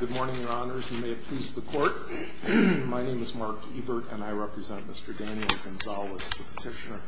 Good morning, your honors, and may it please the court. My name is Mark Ebert, and I represent Mr. Daniel Gonzales, the petitioner.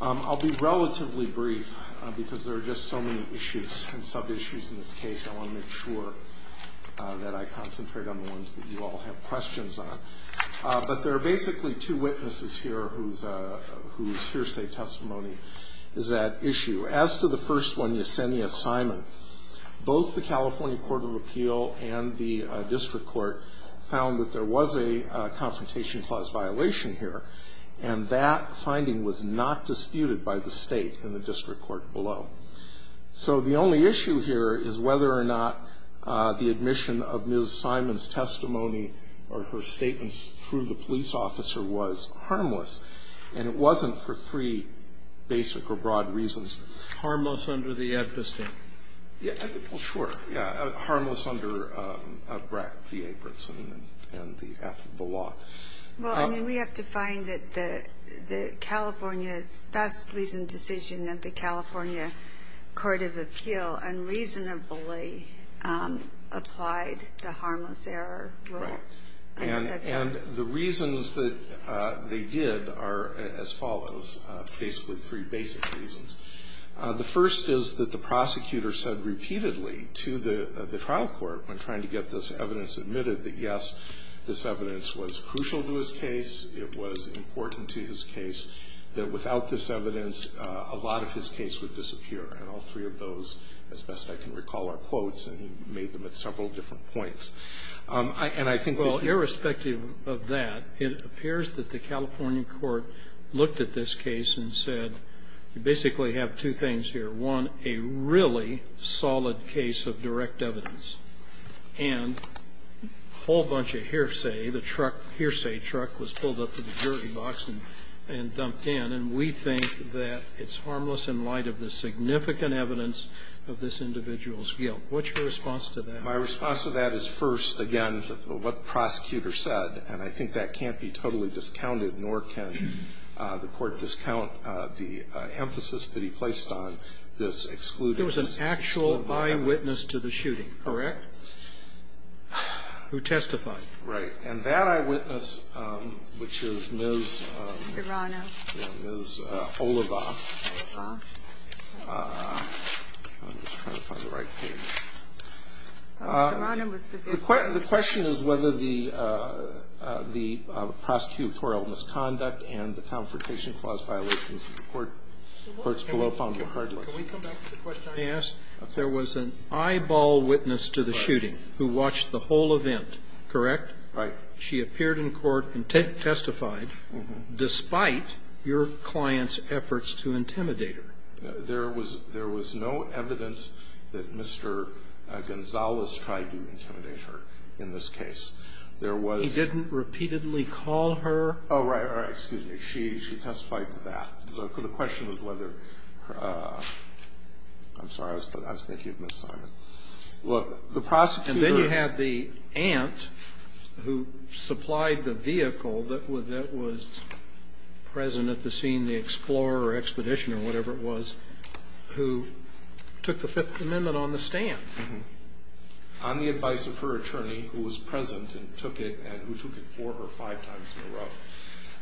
I'll be relatively brief because there are just so many issues and sub-issues in this case. I want to make sure that I concentrate on the ones that you all have questions on. But there are basically two witnesses here whose hearsay testimony is that issue. As to the first one, Yesenia Simon, both the California Court of Appeal and the district court found that there was a confrontation clause violation here. And that finding was not disputed by the state in the district court below. So the only issue here is whether or not the admission of Ms. Simon's testimony or her statements through the police officer was harmless. And it wasn't for three basic or broad reasons. Harmless under the Epstein. Yeah. Well, sure. Yeah. Harmless under BRAC, VA, and the law. Well, I mean, we have to find that the California's best reasoned decision of the California Court of Appeal unreasonably applied the harmless error rule. And the reasons that they did are as follows, basically three basic reasons. The first is that the prosecutor said repeatedly to the trial court, when trying to get this evidence admitted, that, yes, this evidence was crucial to his case, it was important to his case, that without this evidence a lot of his case would disappear. And all three of those, as best I can recall, are quotes. And he made them at several different points. And I think that you can't do that. Well, irrespective of that, it appears that the California court looked at this case and said, you basically have two things here. One, a really solid case of direct evidence. And a whole bunch of hearsay, the truck, hearsay truck was pulled up to the jury box and dumped in. And we think that it's harmless in light of the significant evidence of this individual's guilt. What's your response to that? My response to that is, first, again, what the prosecutor said. And I think that can't be totally discounted, nor can the Court discount the emphasis that he placed on this exclusive evidence. It was an actual eyewitness to the shooting. Correct. Who testified. Right. And that eyewitness, which is Ms. Serrano. Ms. Oliva. Oliva. I'm just trying to find the right page. The question is whether the prosecutorial misconduct and the Confrontation Clause violations that the courts below found were harmless. Can we come back to the question I asked? There was an eyeball witness to the shooting who watched the whole event, correct? Right. She appeared in court and testified despite your client's efforts to intimidate her. There was no evidence that Mr. Gonzales tried to intimidate her in this case. There was. He didn't repeatedly call her. Oh, right, right. Excuse me. She testified to that. The question was whether her ---- I'm sorry. I was thinking of Ms. Simon. Look, the prosecutor. And then you have the aunt who supplied the vehicle that was present at the scene, the Explorer Expedition or whatever it was, who took the Fifth Amendment on the stand. On the advice of her attorney who was present and who took it four or five times in a row.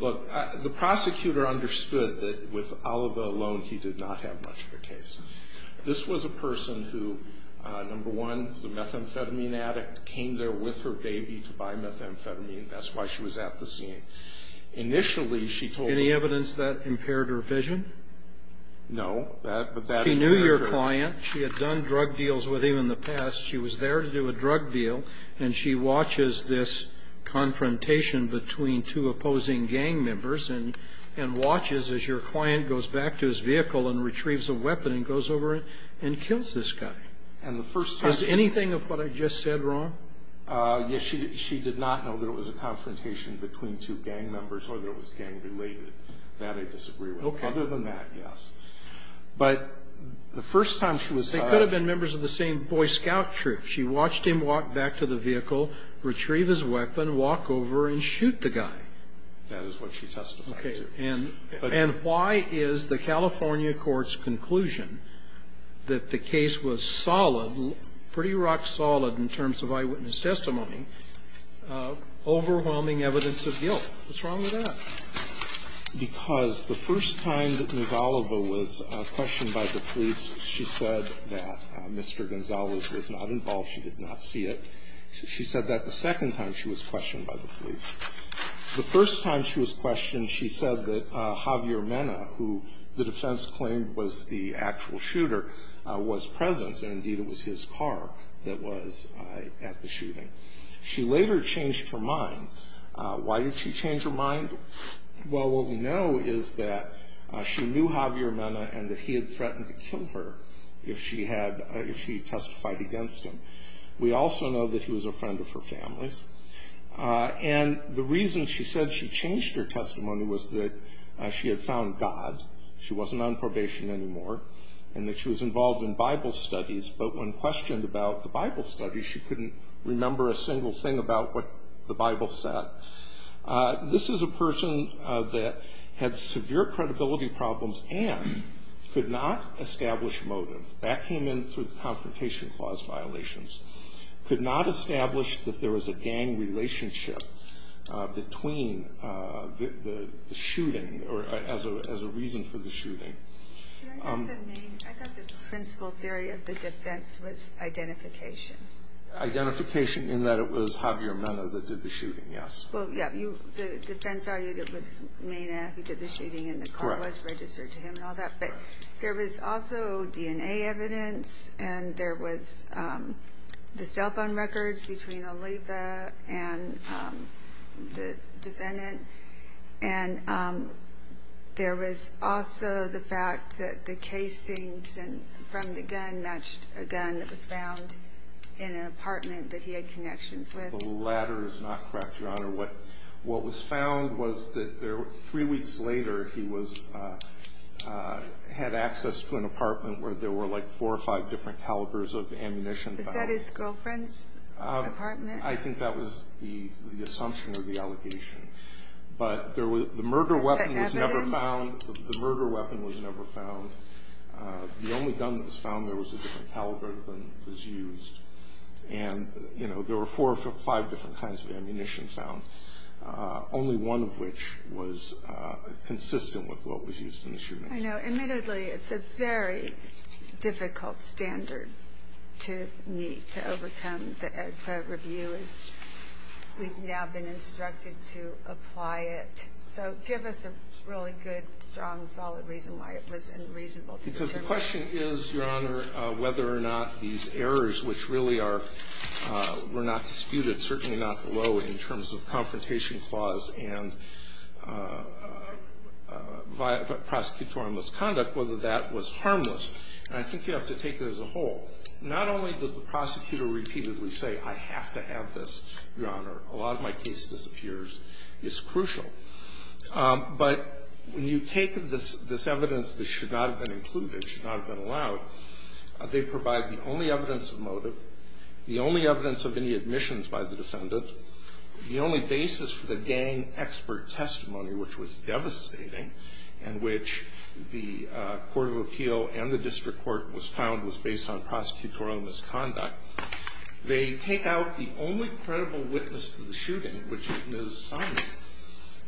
Look, the prosecutor understood that with Oliva alone he did not have much of a case. This was a person who, number one, is a methamphetamine addict, came there with her baby to buy methamphetamine. That's why she was at the scene. Initially she told me ---- Any evidence that impaired her vision? No. She knew your client. She had done drug deals with him in the past. She was there to do a drug deal, and she watches this confrontation between two opposing gang members and watches as your client goes back to his vehicle and retrieves a weapon and goes over and kills this guy. And the first ---- Is anything of what I just said wrong? Yes, she did not know that it was a confrontation between two gang members or that it was gang-related. That I disagree with. Okay. Other than that, yes. But the first time she was ---- They could have been members of the same Boy Scout troop. She watched him walk back to the vehicle, retrieve his weapon, walk over and shoot the guy. That is what she testified to. Okay. And why is the California court's conclusion that the case was solid, pretty rock-solid in terms of eyewitness testimony, overwhelming evidence of guilt? What's wrong with that? Because the first time that Ms. Oliva was questioned by the police, she said that Mr. Gonzales was not involved, she did not see it. She said that the second time she was questioned by the police. The first time she was questioned, she said that Javier Mena, who the defense claimed was the actual shooter, was present, and indeed it was his car that was at the shooting. She later changed her mind. Why did she change her mind? Well, what we know is that she knew Javier Mena and that he had threatened to kill her if she testified against him. We also know that he was a friend of her family's. And the reason she said she changed her testimony was that she had found God, she wasn't on probation anymore, and that she was involved in Bible studies. But when questioned about the Bible studies, she couldn't remember a single thing about what the Bible said. This is a person that had severe credibility problems and could not establish motive. That came in through the Confrontation Clause violations. Could not establish that there was a gang relationship between the shooting or as a reason for the shooting. I thought the principal theory of the defense was identification. Identification in that it was Javier Mena that did the shooting, yes. Well, yeah, the defense argued it was Mena who did the shooting and the car was registered to him and all that. But there was also DNA evidence and there was the cell phone records between Oliva and the defendant. And there was also the fact that the casings from the gun matched a gun that was found in an apartment that he had connections with. The latter is not correct, Your Honor. What was found was that three weeks later he had access to an apartment where there were like four or five different calibers of ammunition found. Is that his girlfriend's apartment? I think that was the assumption or the allegation. But the murder weapon was never found. The murder weapon was never found. The only gun that was found there was a different caliber than was used. And, you know, there were four or five different kinds of ammunition found, only one of which was consistent with what was used in the shooting. I know. Admittedly, it's a very difficult standard to meet, to overcome. The review is we've now been instructed to apply it. So give us a really good, strong, solid reason why it was unreasonable to determine. The question is, Your Honor, whether or not these errors, which really are not disputed, certainly not below in terms of confrontation clause and prosecutorial misconduct, whether that was harmless. And I think you have to take it as a whole. Not only does the prosecutor repeatedly say, I have to have this, Your Honor. A lot of my case disappears. It's crucial. But when you take this evidence that should not have been included, should not have been allowed, they provide the only evidence of motive, the only evidence of any admissions by the defendant, the only basis for the gang expert testimony, which was devastating, and which the court of appeal and the district court was found was based on prosecutorial misconduct. They take out the only credible witness to the shooting, which is Ms. Sumner,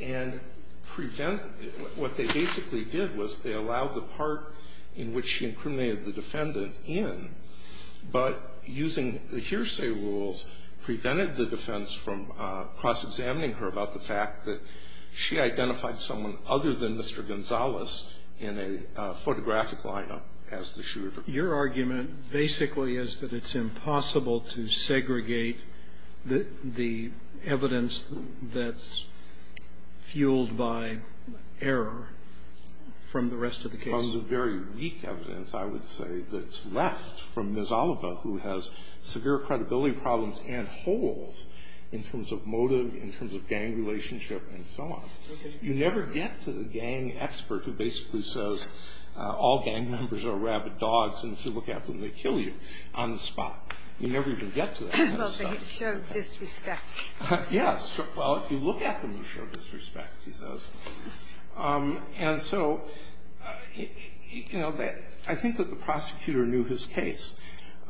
and prevent what they basically did was they allowed the part in which she incriminated the defendant in, but using the hearsay rules prevented the defense from cross-examining her about the fact that she identified someone other than Mr. Gonzalez in a photographic manner as the shooter. Your argument basically is that it's impossible to segregate the evidence that's fueled by error from the rest of the case. From the very weak evidence, I would say, that's left from Ms. Oliver, who has severe credibility problems and holes in terms of motive, in terms of gang relationship, and so on. You never get to the gang expert who basically says all gang members are rabid dogs and if you look at them, they kill you on the spot. You never even get to that kind of stuff. Well, they show disrespect. Yes. Well, if you look at them, you show disrespect, he says. And so, you know, I think that the prosecutor knew his case.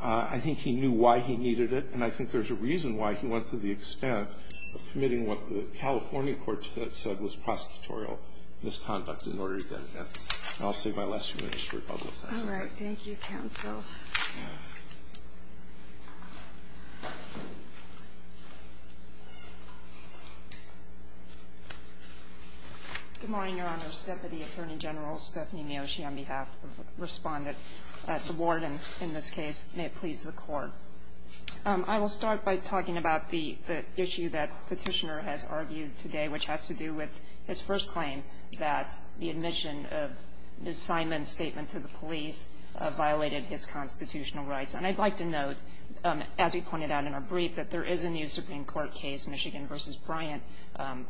I think he knew why he needed it, and I think there's a reason why he went to the extent of committing what the California court said was prosecutorial misconduct in order to get that. And I'll save my last few minutes for a couple of questions. All right. Thank you, counsel. Good morning, Your Honors. Deputy Attorney General Stephanie Neosci on behalf of the respondent at the ward, and in this case, may it please the Court. I will start by talking about the issue that Petitioner has argued today, which has to do with his first claim, that the admission of Ms. Simon's statement to the police violated his constitutional rights. And I'd like to note, as we pointed out in our brief, that there is a new Supreme Court case, Michigan v. Bryant,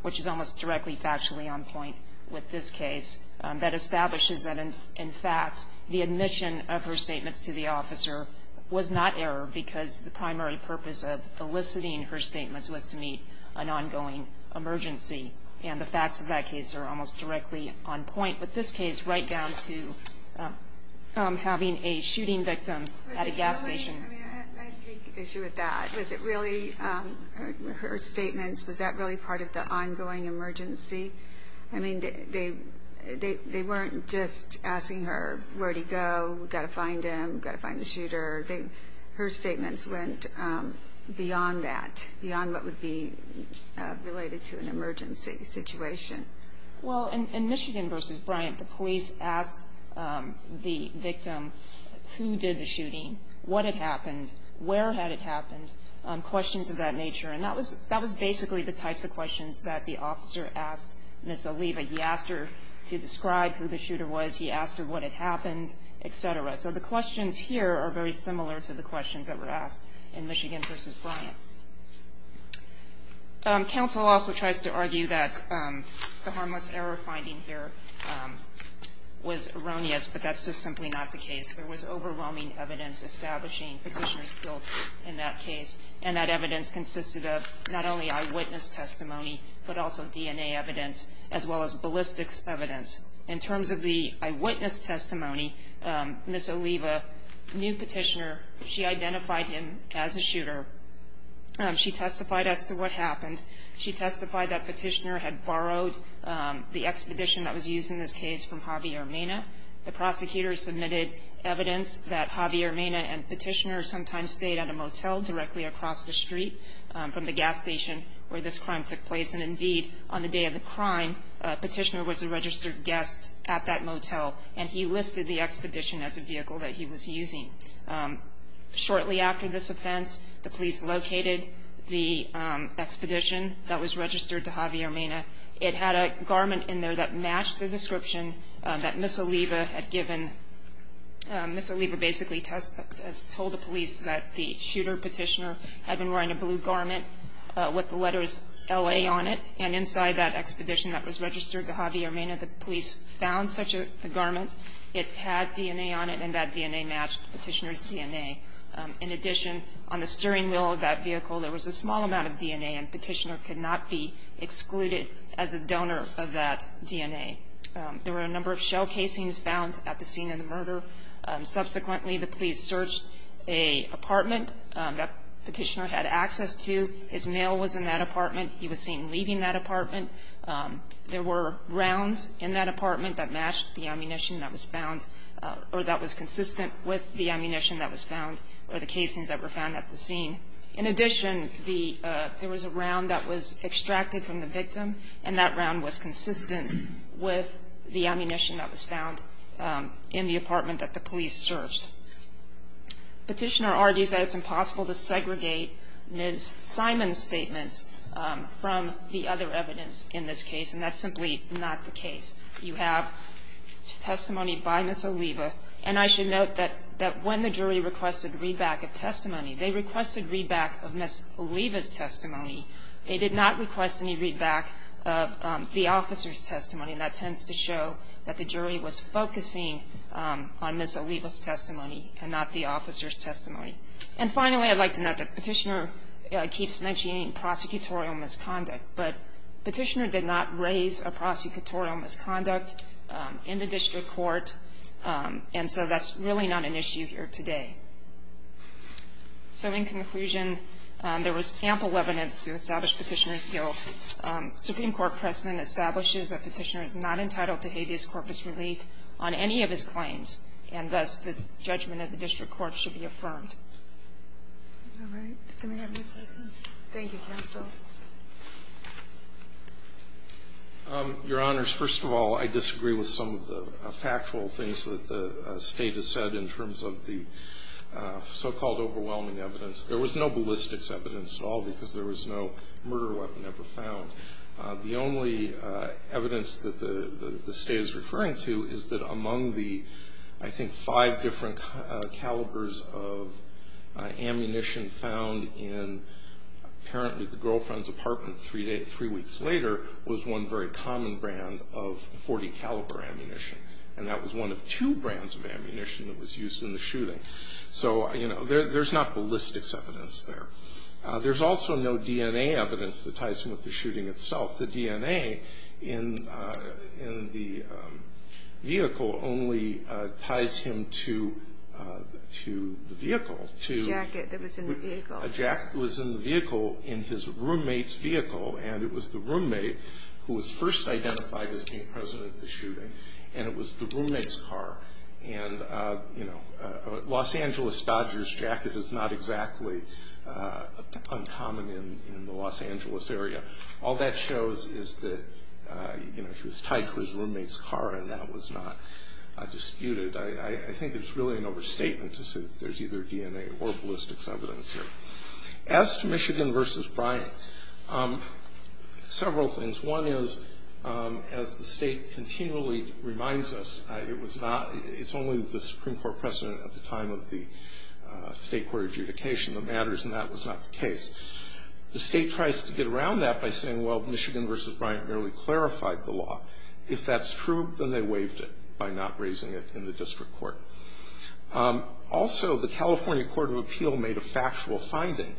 which is almost directly factually on point with this case, that establishes that, in fact, the admission of her statements to the officer was not error because the primary purpose of eliciting her statements was to meet an ongoing emergency. And the facts of that case are almost directly on point with this case, right down to having a shooting victim at a gas station. I take issue with that. Was it really her statements, was that really part of the ongoing emergency? I mean, they weren't just asking her, where did he go? We've got to find him. We've got to find the shooter. Her statements went beyond that, beyond what would be related to an emergency situation. Well, in Michigan v. Bryant, the police asked the victim who did the shooting, what had happened, where had it happened, questions of that nature. And that was basically the types of questions that the officer asked Ms. Oliva. He asked her to describe who the shooter was. He asked her what had happened, et cetera. So the questions here are very similar to the questions that were asked in Michigan v. Bryant. Counsel also tries to argue that the harmless error finding here was erroneous, but that's just simply not the case. There was overwhelming evidence establishing Petitioner's guilt in that case, and that evidence consisted of not only eyewitness testimony, but also DNA evidence as well as ballistics evidence. In terms of the eyewitness testimony, Ms. Oliva knew Petitioner. She identified him as a shooter. She testified as to what happened. She testified that Petitioner had borrowed the expedition that was used in this case from Javier Mena. The prosecutor submitted evidence that Javier Mena and Petitioner sometimes stayed at a motel directly across the street from the gas station where this crime took place. And indeed, on the day of the crime, Petitioner was a registered guest at that motel, and he listed the expedition as a vehicle that he was using. Shortly after this offense, the police located the expedition that was registered to Javier Mena. It had a garment in there that matched the description that Ms. Oliva had given. Ms. Oliva basically told the police that the shooter, Petitioner, had been wearing a blue garment with the letters L.A. on it. And inside that expedition that was registered to Javier Mena, the police found such a garment. It had DNA on it, and that DNA matched Petitioner's DNA. In addition, on the steering wheel of that vehicle, there was a small amount of DNA, and Petitioner could not be excluded as a donor of that DNA. There were a number of shell casings found at the scene of the murder. Subsequently, the police searched an apartment that Petitioner had access to. His mail was in that apartment. He was seen leaving that apartment. There were rounds in that apartment that matched the ammunition that was found or that was consistent with the ammunition that was found or the casings that were found at the scene. In addition, there was a round that was extracted from the victim, and that round was consistent with the ammunition that was found in the apartment that the police searched. Petitioner argues that it's impossible to segregate Ms. Simon's statements from the other evidence in this case, and that's simply not the case. You have testimony by Ms. Oliva. And I should note that when the jury requested readback of testimony, they requested readback of Ms. Oliva's testimony. They did not request any readback of the officer's testimony, and that tends to show that the jury was focusing on Ms. Oliva's testimony and not the officer's testimony. And finally, I'd like to note that Petitioner keeps mentioning prosecutorial misconduct, but Petitioner did not raise a prosecutorial misconduct in the district court, and so that's really not an issue here today. So in conclusion, there was ample evidence to establish Petitioner's guilt. Supreme Court precedent establishes that Petitioner is not entitled to habeas corpus relief on any of his claims, and thus the judgment at the district court should be affirmed. All right. Does anybody have any questions? Thank you, counsel. Your Honors, first of all, I disagree with some of the factual things that the State has said in terms of the so-called overwhelming evidence. There was no ballistics evidence at all because there was no murder weapon ever found. The only evidence that the State is referring to is that among the, I think, five different calibers of ammunition found in apparently the girlfriend's apartment three weeks later was one very common brand of .40 caliber ammunition, and that was one of two brands of ammunition that was used in the shooting. So, you know, there's not ballistics evidence there. There's also no DNA evidence that ties him with the shooting itself. The DNA in the vehicle only ties him to the vehicle. A jacket that was in the vehicle. A jacket that was in the vehicle in his roommate's vehicle, and it was the roommate who was first identified as being present at the shooting, and it was the roommate's car. And, you know, a Los Angeles Dodger's jacket is not exactly uncommon in the Los Angeles area. All that shows is that, you know, he was tied to his roommate's car, and that was not disputed. I think it's really an overstatement to say that there's either DNA or ballistics evidence here. As to Michigan v. Bryant, several things. One is, as the state continually reminds us, it's only the Supreme Court precedent at the time of the state court adjudication that matters, and that was not the case. The state tries to get around that by saying, well, Michigan v. Bryant merely clarified the law. If that's true, then they waived it by not raising it in the district court. Also, the California Court of Appeal made a factual finding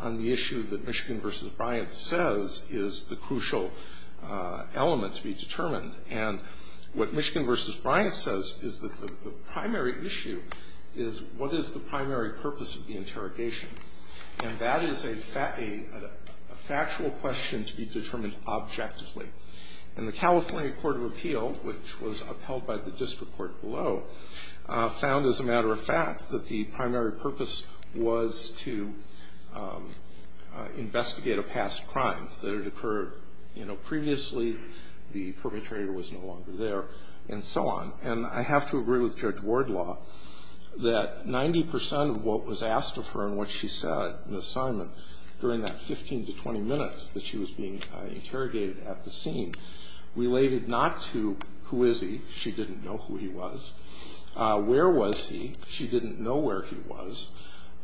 on the issue that Michigan v. Bryant says is the crucial element to be determined. And what Michigan v. Bryant says is that the primary issue is, what is the primary purpose of the interrogation? And that is a factual question to be determined objectively. And the California Court of Appeal, which was upheld by the district court below, found, as a matter of fact, that the primary purpose was to investigate a past crime, that it occurred, you know, previously, the perpetrator was no longer there, and so on. And I have to agree with Judge Wardlaw that 90 percent of what was asked of her and what she said, Ms. Simon, during that 15 to 20 minutes that she was being interrogated at the scene, related not to, who is he? She didn't know who he was. Where was he? She didn't know where he was.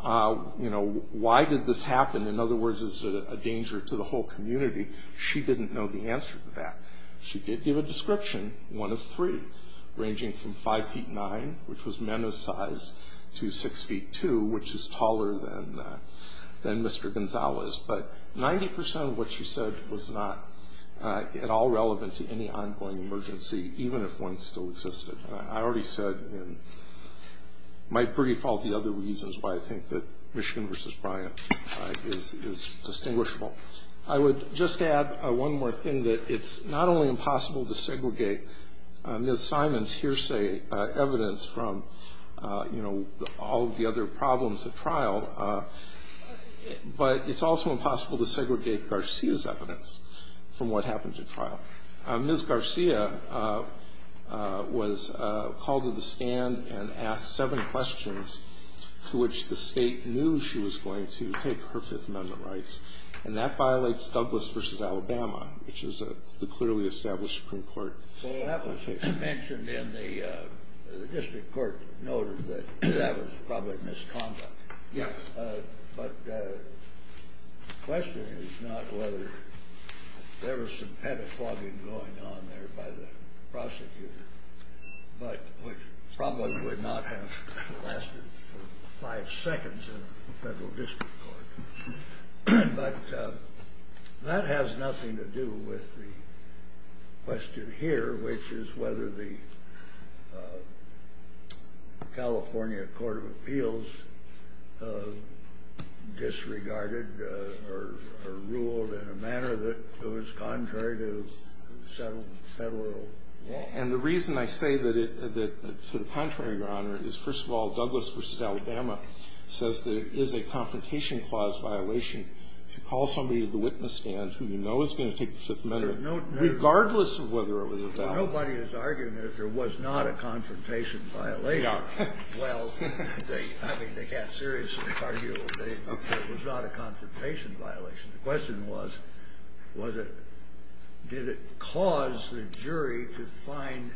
You know, why did this happen? In other words, is it a danger to the whole community? She didn't know the answer to that. She did give a description, one of three, ranging from 5 feet 9, which was men of size, to 6 feet 2, which is taller than Mr. Gonzales. But 90 percent of what she said was not at all relevant to any ongoing emergency, even if one still existed. And I already said in my brief all the other reasons why I think that Michigan v. Bryant is distinguishable. I would just add one more thing, that it's not only impossible to segregate Ms. Simon's hearsay, evidence from, you know, all of the other problems at trial, but it's also impossible to segregate Garcia's evidence from what happened at trial. Ms. Garcia was called to the stand and asked seven questions to which the State knew she was going to take her Fifth Amendment rights, and that violates Douglas v. Alabama, which is the clearly established Supreme Court. Well, that was mentioned in the district court noted that that was probably misconduct. Yes. But the question is not whether there was some pedophagy going on there by the prosecutor, but which probably would not have lasted five seconds in the federal district court. But that has nothing to do with the question here, which is whether the California Court of Appeals disregarded or ruled in a manner that was contrary to federal law. And the reason I say that to the contrary, Your Honor, is, first of all, Douglas v. Alabama says there is a confrontation clause violation. If you call somebody to the witness stand who you know is going to take the Fifth Amendment, regardless of whether it was a foul. Well, nobody is arguing that there was not a confrontation violation. We are. Well, I mean, they can't seriously argue that there was not a confrontation violation. The question was, did it cause the jury to find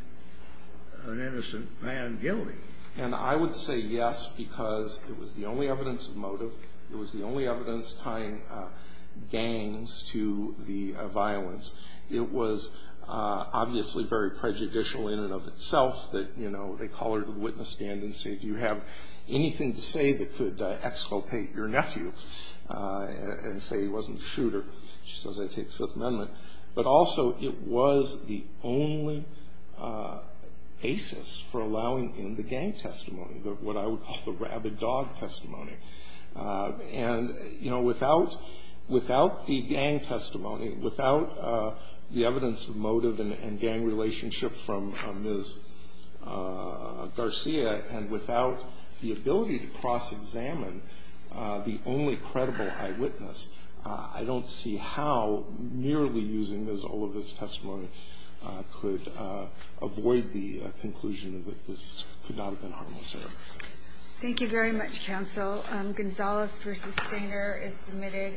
an innocent man guilty? And I would say yes, because it was the only evidence of motive. It was the only evidence tying gangs to the violence. It was obviously very prejudicial in and of itself that, you know, they call her to the witness stand and say, do you have anything to say that could exculpate your nephew and say he wasn't a shooter? She says, I take the Fifth Amendment. But also it was the only basis for allowing in the gang testimony, what I would call the rabid dog testimony. And, you know, without the gang testimony, without the evidence of motive and gang relationship from Ms. Garcia, and without the ability to cross examine the only credible eyewitness, I don't see how merely using all of this testimony could avoid the conclusion that this could not have been a harmless error. Thank you very much, counsel. Gonzales v. Stainer is submitted.